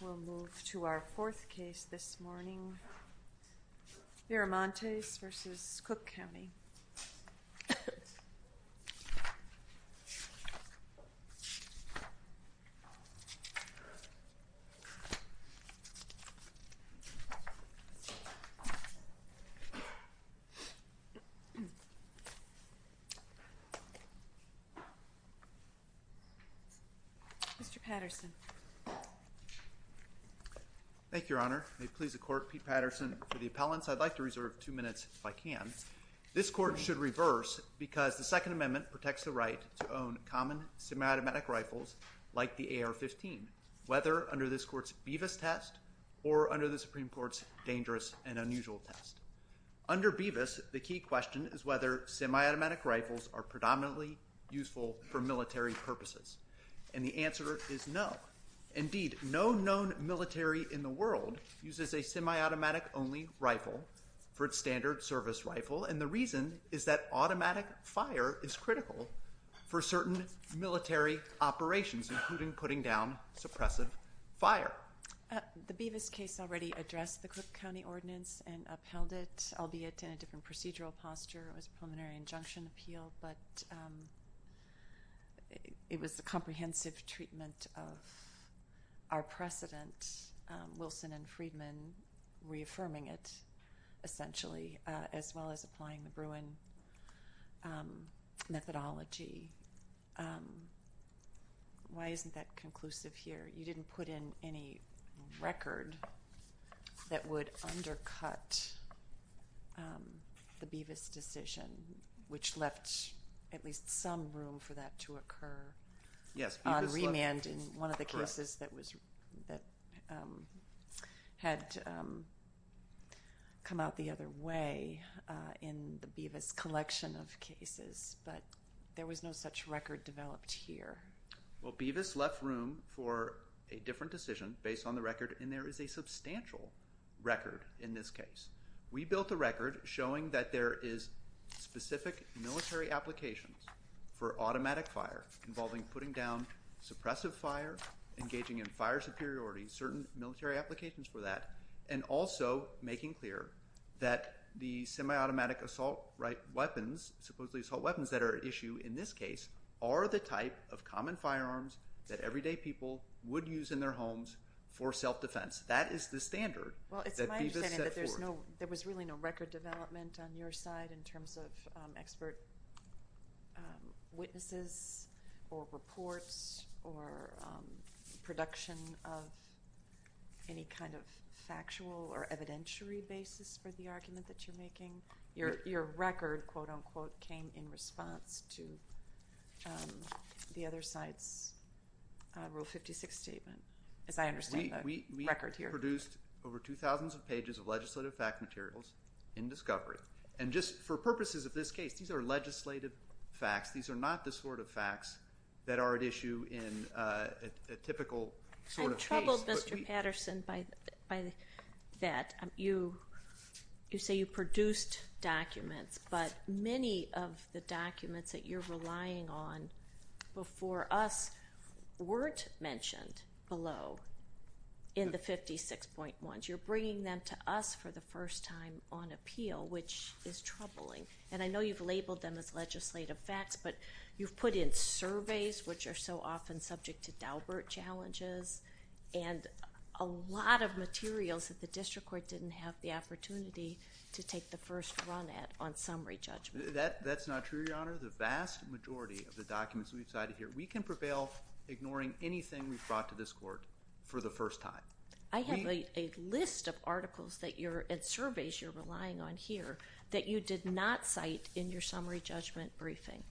We'll move to our fourth case this morning, Viramontes v. Cook County. Mr. Patterson. Thank you, Your Honor. May it please the court, Pete Patterson, for the appellants. I'd like to reserve two minutes if I can. This court should reverse because the Second Amendment protects the right to own common semi-automatic rifles like the AR-15, whether under this court's BEVIS test or under the Supreme Court's dangerous and unusual test. Under BEVIS, the key question is whether semi-automatic rifles are predominantly useful for military purposes. And the answer is no. Indeed, no known military in the world uses a semi-automatic-only rifle for its standard service rifle, and the reason is that automatic fire is critical for certain military operations, including putting down suppressive fire. The BEVIS case already addressed the Cook County Ordinance and upheld it, albeit in a different procedural posture. It was a preliminary injunction appeal, but it was a comprehensive treatment of our precedent, Wilson and Friedman reaffirming it, essentially, as well as applying the Bruin methodology. Why isn't that conclusive here? You didn't put in any record that would undercut the BEVIS decision, which left at least some room for that to occur on remand in one of the cases that had come out the other way in the BEVIS collection of cases. But there was no such record developed here. Well, BEVIS left room for a different decision based on the record, and there is a substantial record in this case. We built a record showing that there is specific military applications for automatic fire involving putting down suppressive fire, engaging in fire superiority, certain military applications for that, and also making clear that the semi-automatic assault weapons, supposedly assault weapons that are at issue in this case, are the type of common firearms that everyday people would use in their homes for self-defense. That is the standard that BEVIS set forth. There was really no record development on your side in terms of expert witnesses or reports or production of any kind of factual or evidentiary basis for the argument that you're making? Your record, quote, unquote, came in response to the other side's Rule 56 statement, as I understand the record here. We produced over 2,000 pages of legislative fact materials in discovery. And just for purposes of this case, these are legislative facts. These are not the sort of facts that are at issue in a typical sort of case. I'm troubled, Mr. Patterson, by that. You say you produced documents, but many of the documents that you're relying on before us weren't mentioned below in the 56.1s. You're bringing them to us for the first time on appeal, which is troubling. And I know you've labeled them as legislative facts, but you've put in surveys, which are so often subject to Daubert challenges, and a lot of materials that the district court didn't have the opportunity to take the first run at on summary judgment. That's not true, Your Honor. The vast majority of the documents we've cited here, we can prevail ignoring anything we've brought to this court for the first time. I have a list of articles and surveys you're relying on here that you did not cite in your summary judgment briefing.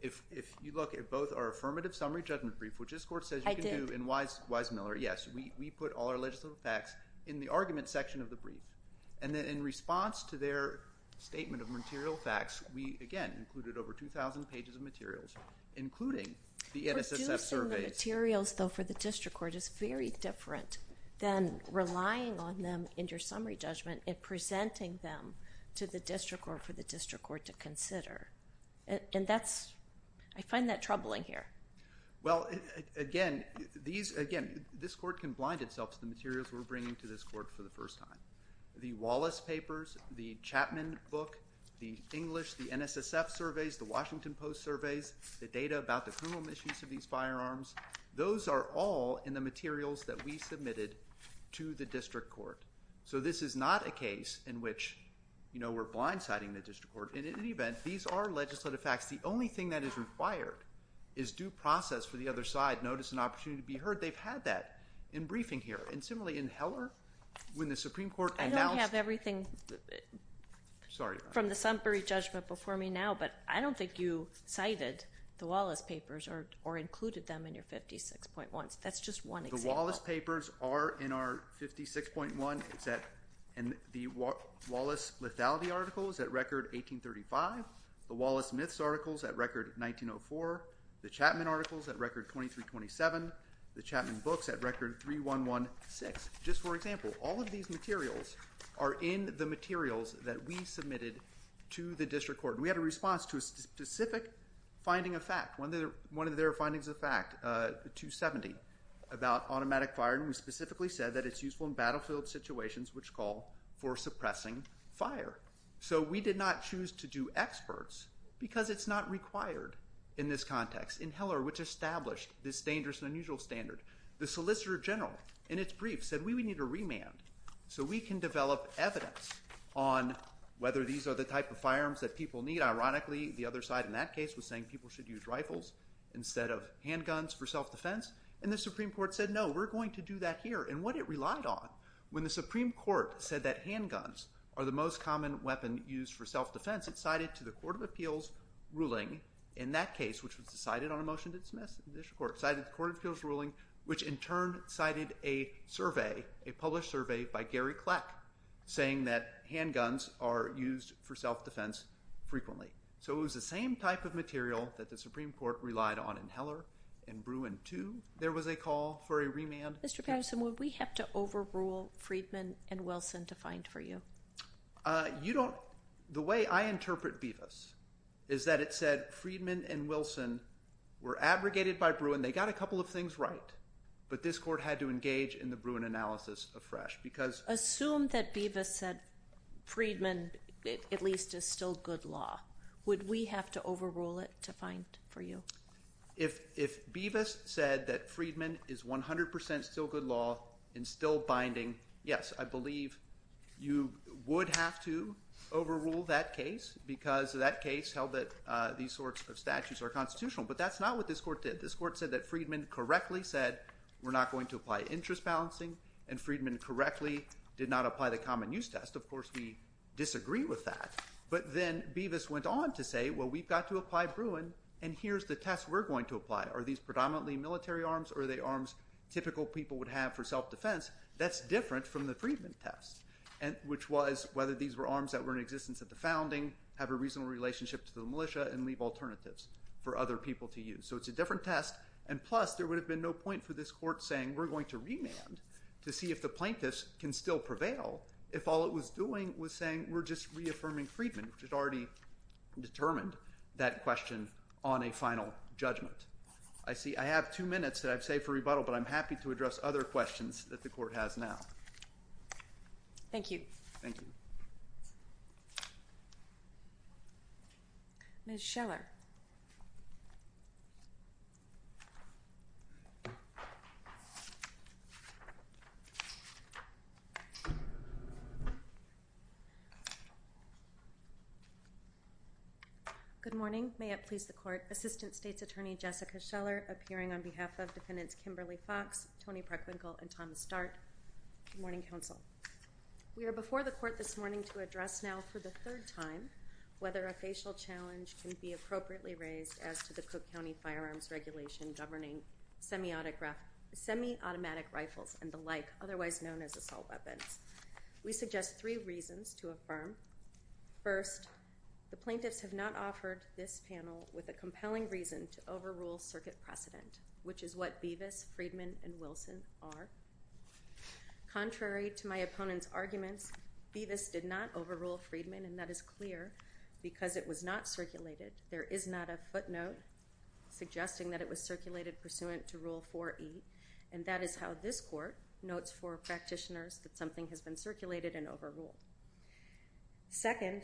If you look at both our affirmative summary judgment brief, which this court says you can do in Wise Miller. Yes, we put all our legislative facts in the argument section of the brief. And then in response to their statement of material facts, we, again, included over 2,000 pages of materials, including the NSSF surveys. Producing the materials, though, for the district court is very different than relying on them in your summary judgment and presenting them to the district court for the district court to consider. And that's – I find that troubling here. Well, again, these – again, this court can blind itself to the materials we're bringing to this court for the first time. The Wallace papers, the Chapman book, the English, the NSSF surveys, the Washington Post surveys, the data about the criminal misuse of these firearms, those are all in the materials that we submitted to the district court. So this is not a case in which, you know, we're blindsiding the district court. In any event, these are legislative facts. The only thing that is required is due process for the other side, notice and opportunity to be heard. They've had that in briefing here. And similarly, in Heller, when the Supreme Court announced – I don't have everything from the summary judgment before me now, but I don't think you cited the Wallace papers or included them in your 56.1. That's just one example. The Wallace papers are in our 56.1. It's at – and the Wallace lethality article is at record 1835. The Wallace myths article is at record 1904. The Chapman article is at record 2327. The Chapman books at record 3116. Just for example, all of these materials are in the materials that we submitted to the district court. We had a response to a specific finding of fact. One of their findings of fact, 270, about automatic firing. We specifically said that it's useful in battlefield situations, which call for suppressing fire. So we did not choose to do experts because it's not required in this context. In Heller, which established this dangerous and unusual standard, the solicitor general, in its brief, said we would need a remand so we can develop evidence on whether these are the type of firearms that people need. Ironically, the other side in that case was saying people should use rifles instead of handguns for self-defense. And the Supreme Court said, no, we're going to do that here. And what it relied on, when the Supreme Court said that handguns are the most common weapon used for self-defense, it cited to the Court of Appeals ruling in that case, which was decided on a motion to dismiss the district court, cited the Court of Appeals ruling, which in turn cited a survey, a published survey by Gary Kleck, saying that handguns are used for self-defense frequently. So it was the same type of material that the Supreme Court relied on in Heller. In Bruin, too, there was a call for a remand. Mr. Patterson, would we have to overrule Freedman and Wilson to find for you? You don't – the way I interpret Bevis is that it said Freedman and Wilson were abrogated by Bruin. They got a couple of things right, but this court had to engage in the Bruin analysis of Fresh because – Assume that Bevis said Freedman at least is still good law. Would we have to overrule it to find for you? If Bevis said that Freedman is 100% still good law and still binding, yes, I believe you would have to overrule that case because that case held that these sorts of statutes are constitutional. But that's not what this court did. This court said that Freedman correctly said we're not going to apply interest balancing, and Freedman correctly did not apply the common use test. Of course, we disagree with that. But then Bevis went on to say, well, we've got to apply Bruin, and here's the test we're going to apply. Are these predominantly military arms or are they arms typical people would have for self-defense? That's different from the Freedman test, which was whether these were arms that were in existence at the founding, have a reasonable relationship to the militia, and leave alternatives for other people to use. So it's a different test, and plus there would have been no point for this court saying we're going to remand to see if the plaintiffs can still prevail if all it was doing was saying we're just reaffirming Freedman, which had already determined that question on a final judgment. I have two minutes that I've saved for rebuttal, but I'm happy to address other questions that the court has now. Thank you. Thank you. Ms. Scheller. Good morning. May it please the court, Assistant State's Attorney Jessica Scheller, appearing on behalf of Defendants Kimberly Fox, Tony Preckwinkle, and Thomas Dart. Good morning, counsel. We are before the court this morning to address now for the third time whether a facial challenge can be appropriately raised as to the Cook County Firearms Regulation governing semi-automatic rifles and the like, otherwise known as assault weapons. We suggest three reasons to affirm. First, the plaintiffs have not offered this panel with a compelling reason to overrule circuit precedent, which is what Bevis, Freedman, and Wilson are. Contrary to my opponent's arguments, Bevis did not overrule Freedman, and that is clear because it was not circulated. There is not a footnote suggesting that it was circulated pursuant to Rule 4E, and that is how this court notes for practitioners that something has been circulated and overruled. Second,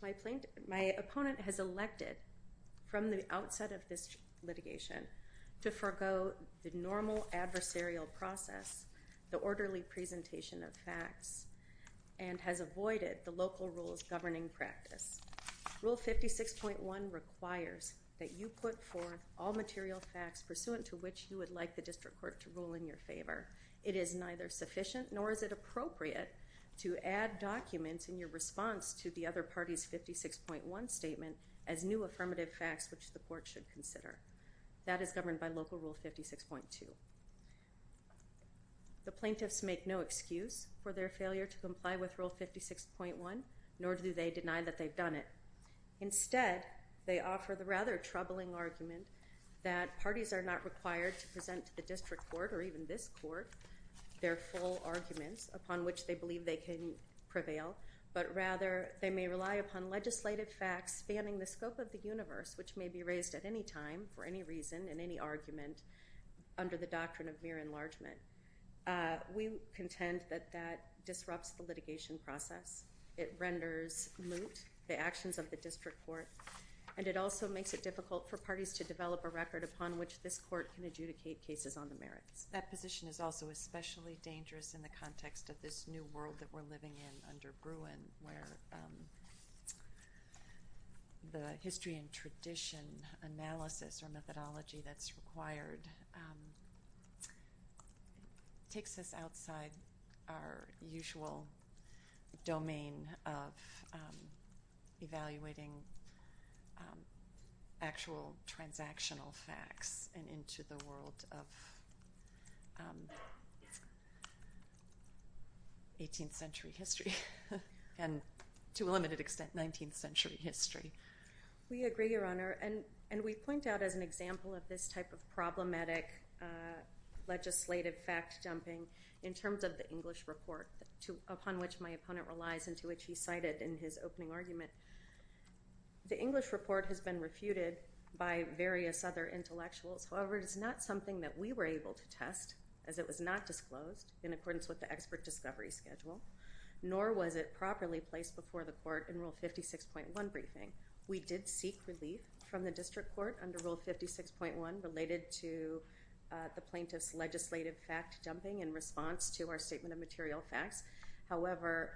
my opponent has elected from the outset of this litigation to forego the normal adversarial process the orderly presentation of facts and has avoided the local rules governing practice. Rule 56.1 requires that you put forth all material facts pursuant to which you would like the district court to rule in your favor. It is neither sufficient nor is it appropriate to add documents in your response to the other party's 56.1 statement as new affirmative facts which the court should consider. That is governed by Local Rule 56.2. The plaintiffs make no excuse for their failure to comply with Rule 56.1, nor do they deny that they've done it. Instead, they offer the rather troubling argument that parties are not required to present to the district court or even this court their full arguments upon which they believe they can prevail, but rather they may rely upon legislative facts spanning the scope of the universe which may be raised at any time for any reason in any argument under the doctrine of mere enlargement. We contend that that disrupts the litigation process. It renders moot the actions of the district court, and it also makes it difficult for parties to develop a record upon which this court can adjudicate cases on the merits. That position is also especially dangerous in the context of this new world that we're living in under Bruin where the history and tradition analysis or methodology that's required takes us outside our usual domain of evaluating actual transactional facts and into the world of 18th century history and, to a limited extent, 19th century history. We agree, Your Honor, and we point out as an example of this type of problematic legislative fact-jumping in terms of the English report upon which my opponent relies and to which he cited in his opening argument. The English report has been refuted by various other intellectuals. However, it is not something that we were able to test as it was not disclosed in accordance with the expert discovery schedule, nor was it properly placed before the court in Rule 56.1 briefing. We did seek relief from the district court under Rule 56.1 related to the plaintiff's legislative fact-jumping in response to our statement of material facts. However,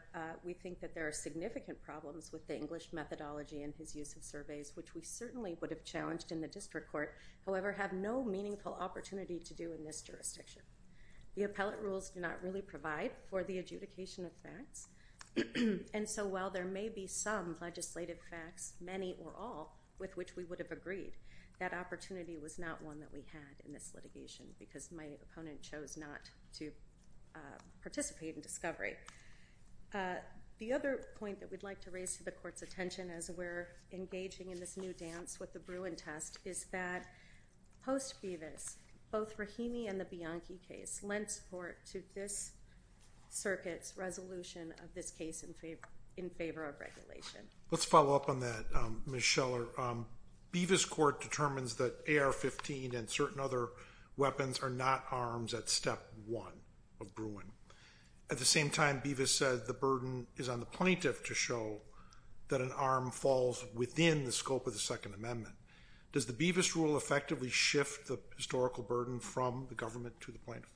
we think that there are significant problems with the English methodology in his use of surveys, which we certainly would have challenged in the district court, however, have no meaningful opportunity to do in this jurisdiction. The appellate rules do not really provide for the adjudication of facts, and so while there may be some legislative facts, many or all, with which we would have agreed, that opportunity was not one that we had in this litigation because my opponent chose not to participate in discovery. The other point that we'd like to raise to the court's attention as we're engaging in this new dance with the Bruin test is that post-Bevis, both Rahimi and the Bianchi case lent support to this circuit's resolution of this case in favor of regulation. Let's follow up on that, Ms. Scheller. Bevis court determines that AR-15 and certain other weapons are not arms at Step 1 of Bruin. At the same time, Bevis said the burden is on the plaintiff to show that an arm falls within the scope of the Second Amendment. Does the Bevis rule effectively shift the historical burden from the government to the plaintiff?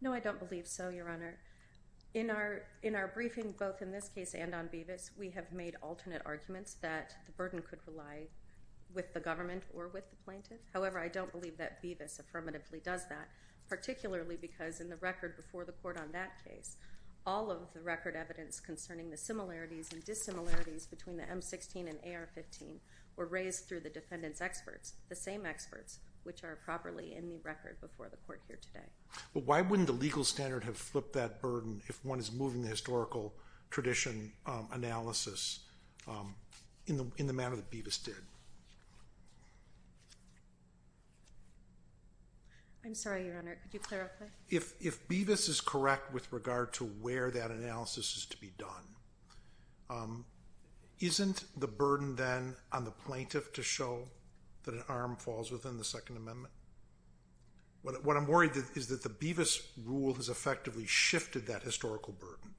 No, I don't believe so, Your Honor. In our briefing, both in this case and on Bevis, we have made alternate arguments that the burden could rely with the government or with the plaintiff. However, I don't believe that Bevis affirmatively does that, particularly because in the record before the court on that case, all of the record evidence concerning the similarities and dissimilarities between the M-16 and AR-15 were raised through the defendant's experts, the same experts which are properly in the record before the court here today. But why wouldn't the legal standard have flipped that burden if one is moving the historical tradition analysis in the manner that Bevis did? I'm sorry, Your Honor. Could you clarify? If Bevis is correct with regard to where that analysis is to be done, isn't the burden then on the plaintiff to show that an arm falls within the Second Amendment? What I'm worried is that the Bevis rule has effectively shifted that historical burden.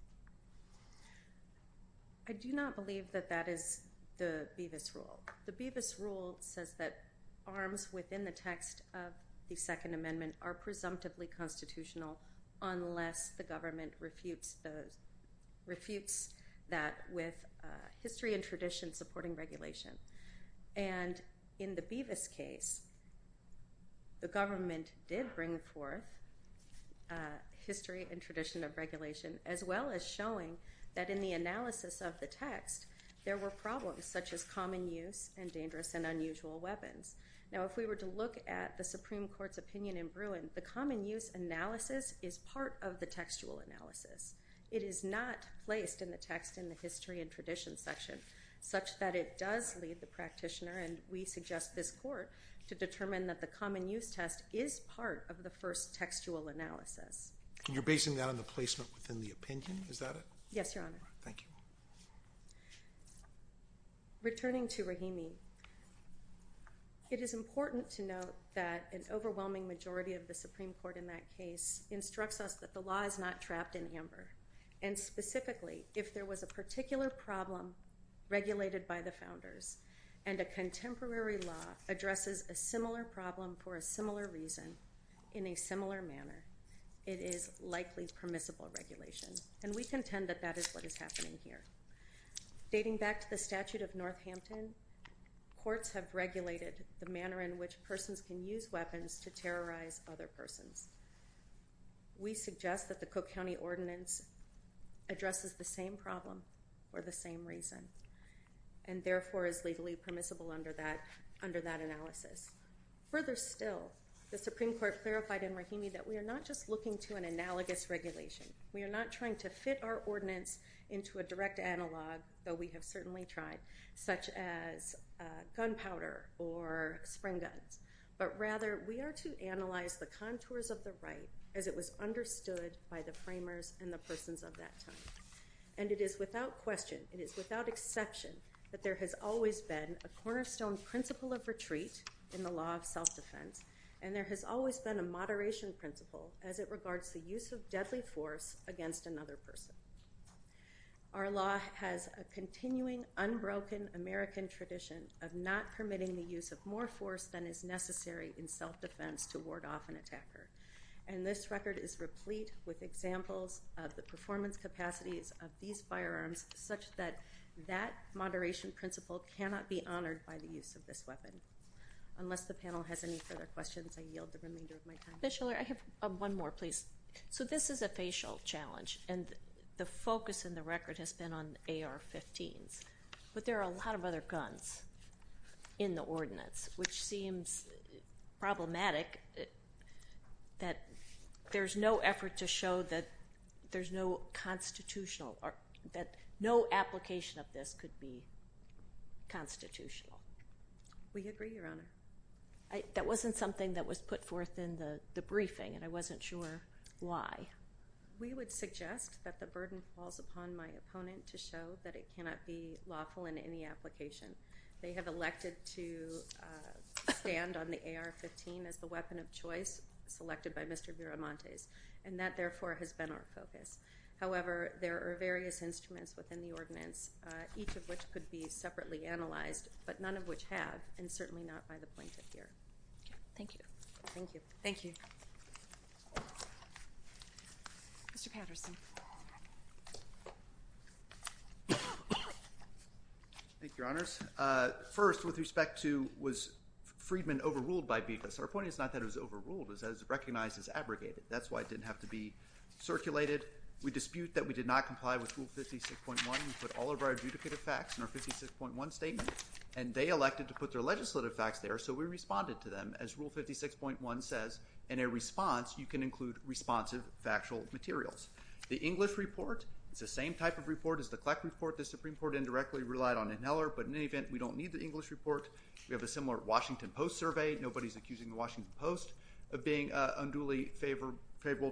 I do not believe that that is the Bevis rule. The Bevis rule says that arms within the text of the Second Amendment are presumptively constitutional unless the government refutes that with history and tradition supporting regulation. And in the Bevis case, the government did bring forth history and tradition of regulation, as well as showing that in the analysis of the text there were problems such as common use and dangerous and unusual weapons. Now, if we were to look at the Supreme Court's opinion in Bruin, the common use analysis is part of the textual analysis. It is not placed in the text in the history and tradition section such that it does lead the practitioner, and we suggest this court to determine that the common use test is part of the first textual analysis. And you're basing that on the placement within the opinion? Is that it? Yes, Your Honor. Thank you. Returning to Rahimi, it is important to note that an overwhelming majority of the Supreme Court in that case instructs us that the law is not trapped in amber. And specifically, if there was a particular problem regulated by the founders and a contemporary law addresses a similar problem for a similar reason in a similar manner, it is likely permissible regulation. And we contend that that is what is happening here. Dating back to the statute of Northampton, courts have regulated the manner in which persons can use weapons to terrorize other persons. We suggest that the Cook County Ordinance addresses the same problem for the same reason and therefore is legally permissible under that analysis. Further still, the Supreme Court clarified in Rahimi that we are not just looking to an analogous regulation. We are not trying to fit our ordinance into a direct analog, though we have certainly tried, such as gunpowder or spring guns. But rather, we are to analyze the contours of the right as it was understood by the framers and the persons of that time. And it is without question, it is without exception, that there has always been a cornerstone principle of retreat in the law of self-defense. And there has always been a moderation principle as it regards the use of deadly force against another person. Our law has a continuing, unbroken American tradition of not permitting the use of more force than is necessary in self-defense to ward off an attacker. And this record is replete with examples of the performance capacities of these firearms, such that that moderation principle cannot be honored by the use of this weapon. Unless the panel has any further questions, I yield the remainder of my time. Ms. Schiller, I have one more, please. So this is a facial challenge, and the focus in the record has been on AR-15s. But there are a lot of other guns in the ordinance, which seems problematic that there's no effort to show that there's no constitutional or that no application of this could be constitutional. We agree, Your Honor. That wasn't something that was put forth in the briefing, and I wasn't sure why. We would suggest that the burden falls upon my opponent to show that it cannot be lawful in any application. They have elected to stand on the AR-15 as the weapon of choice selected by Mr. Viramontes, and that, therefore, has been our focus. However, there are various instruments within the ordinance, each of which could be separately analyzed, but none of which have, and certainly not by the plaintiff here. Thank you. Thank you. Thank you. Mr. Patterson. Thank you, Your Honors. First, with respect to was Freedman overruled by because. Our point is not that it was overruled. It was recognized as abrogated. That's why it didn't have to be circulated. We dispute that we did not comply with Rule 56.1. We put all of our adjudicative facts in our 56.1 statement, and they elected to put their legislative facts there, so we responded to them, as Rule 56.1 says. In a response, you can include responsive factual materials. The English report is the same type of report as the CLEC report. The Supreme Court indirectly relied on Neller, but in any event, we don't need the English report. We have a similar Washington Post survey. Nobody is accusing the Washington Post of being unduly favorable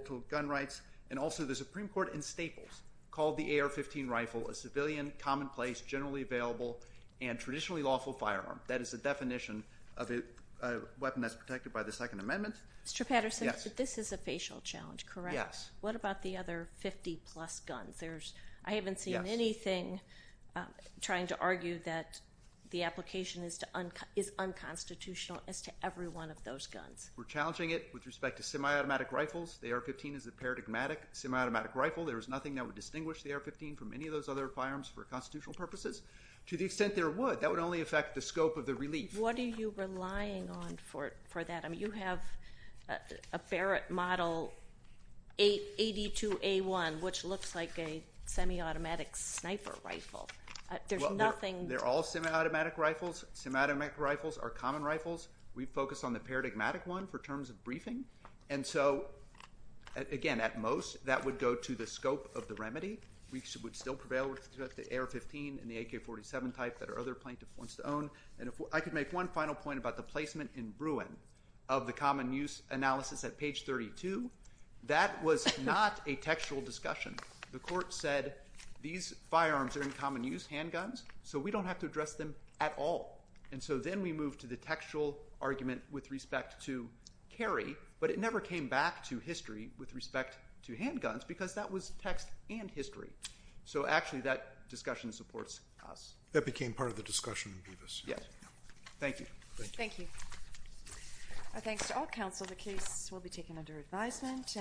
to gun rights. And also the Supreme Court in Staples called the AR-15 rifle a civilian, commonplace, generally available, and traditionally lawful firearm. That is the definition of a weapon that's protected by the Second Amendment. Mr. Patterson, this is a facial challenge, correct? Yes. What about the other 50-plus guns? I haven't seen anything trying to argue that the application is unconstitutional as to every one of those guns. We're challenging it with respect to semi-automatic rifles. The AR-15 is a paradigmatic semi-automatic rifle. There is nothing that would distinguish the AR-15 from any of those other firearms for constitutional purposes. To the extent there would, that would only affect the scope of the relief. What are you relying on for that? I mean, you have a Barrett Model 82A1, which looks like a semi-automatic sniper rifle. There's nothing. Well, they're all semi-automatic rifles. Semi-automatic rifles are common rifles. We focus on the paradigmatic one for terms of briefing. And so, again, at most, that would go to the scope of the remedy. We would still prevail with respect to AR-15 and the AK-47 type that our other plaintiff wants to own. And I could make one final point about the placement in Bruin of the common use analysis at page 32. That was not a textual discussion. The court said these firearms are in common use, handguns, so we don't have to address them at all. And so then we moved to the textual argument with respect to carry, but it never came back to history with respect to handguns because that was text and history. So, actually, that discussion supports us. That became part of the discussion. Yes. Thank you. Thank you. Thanks to all counsel. The case will be taken under advisement.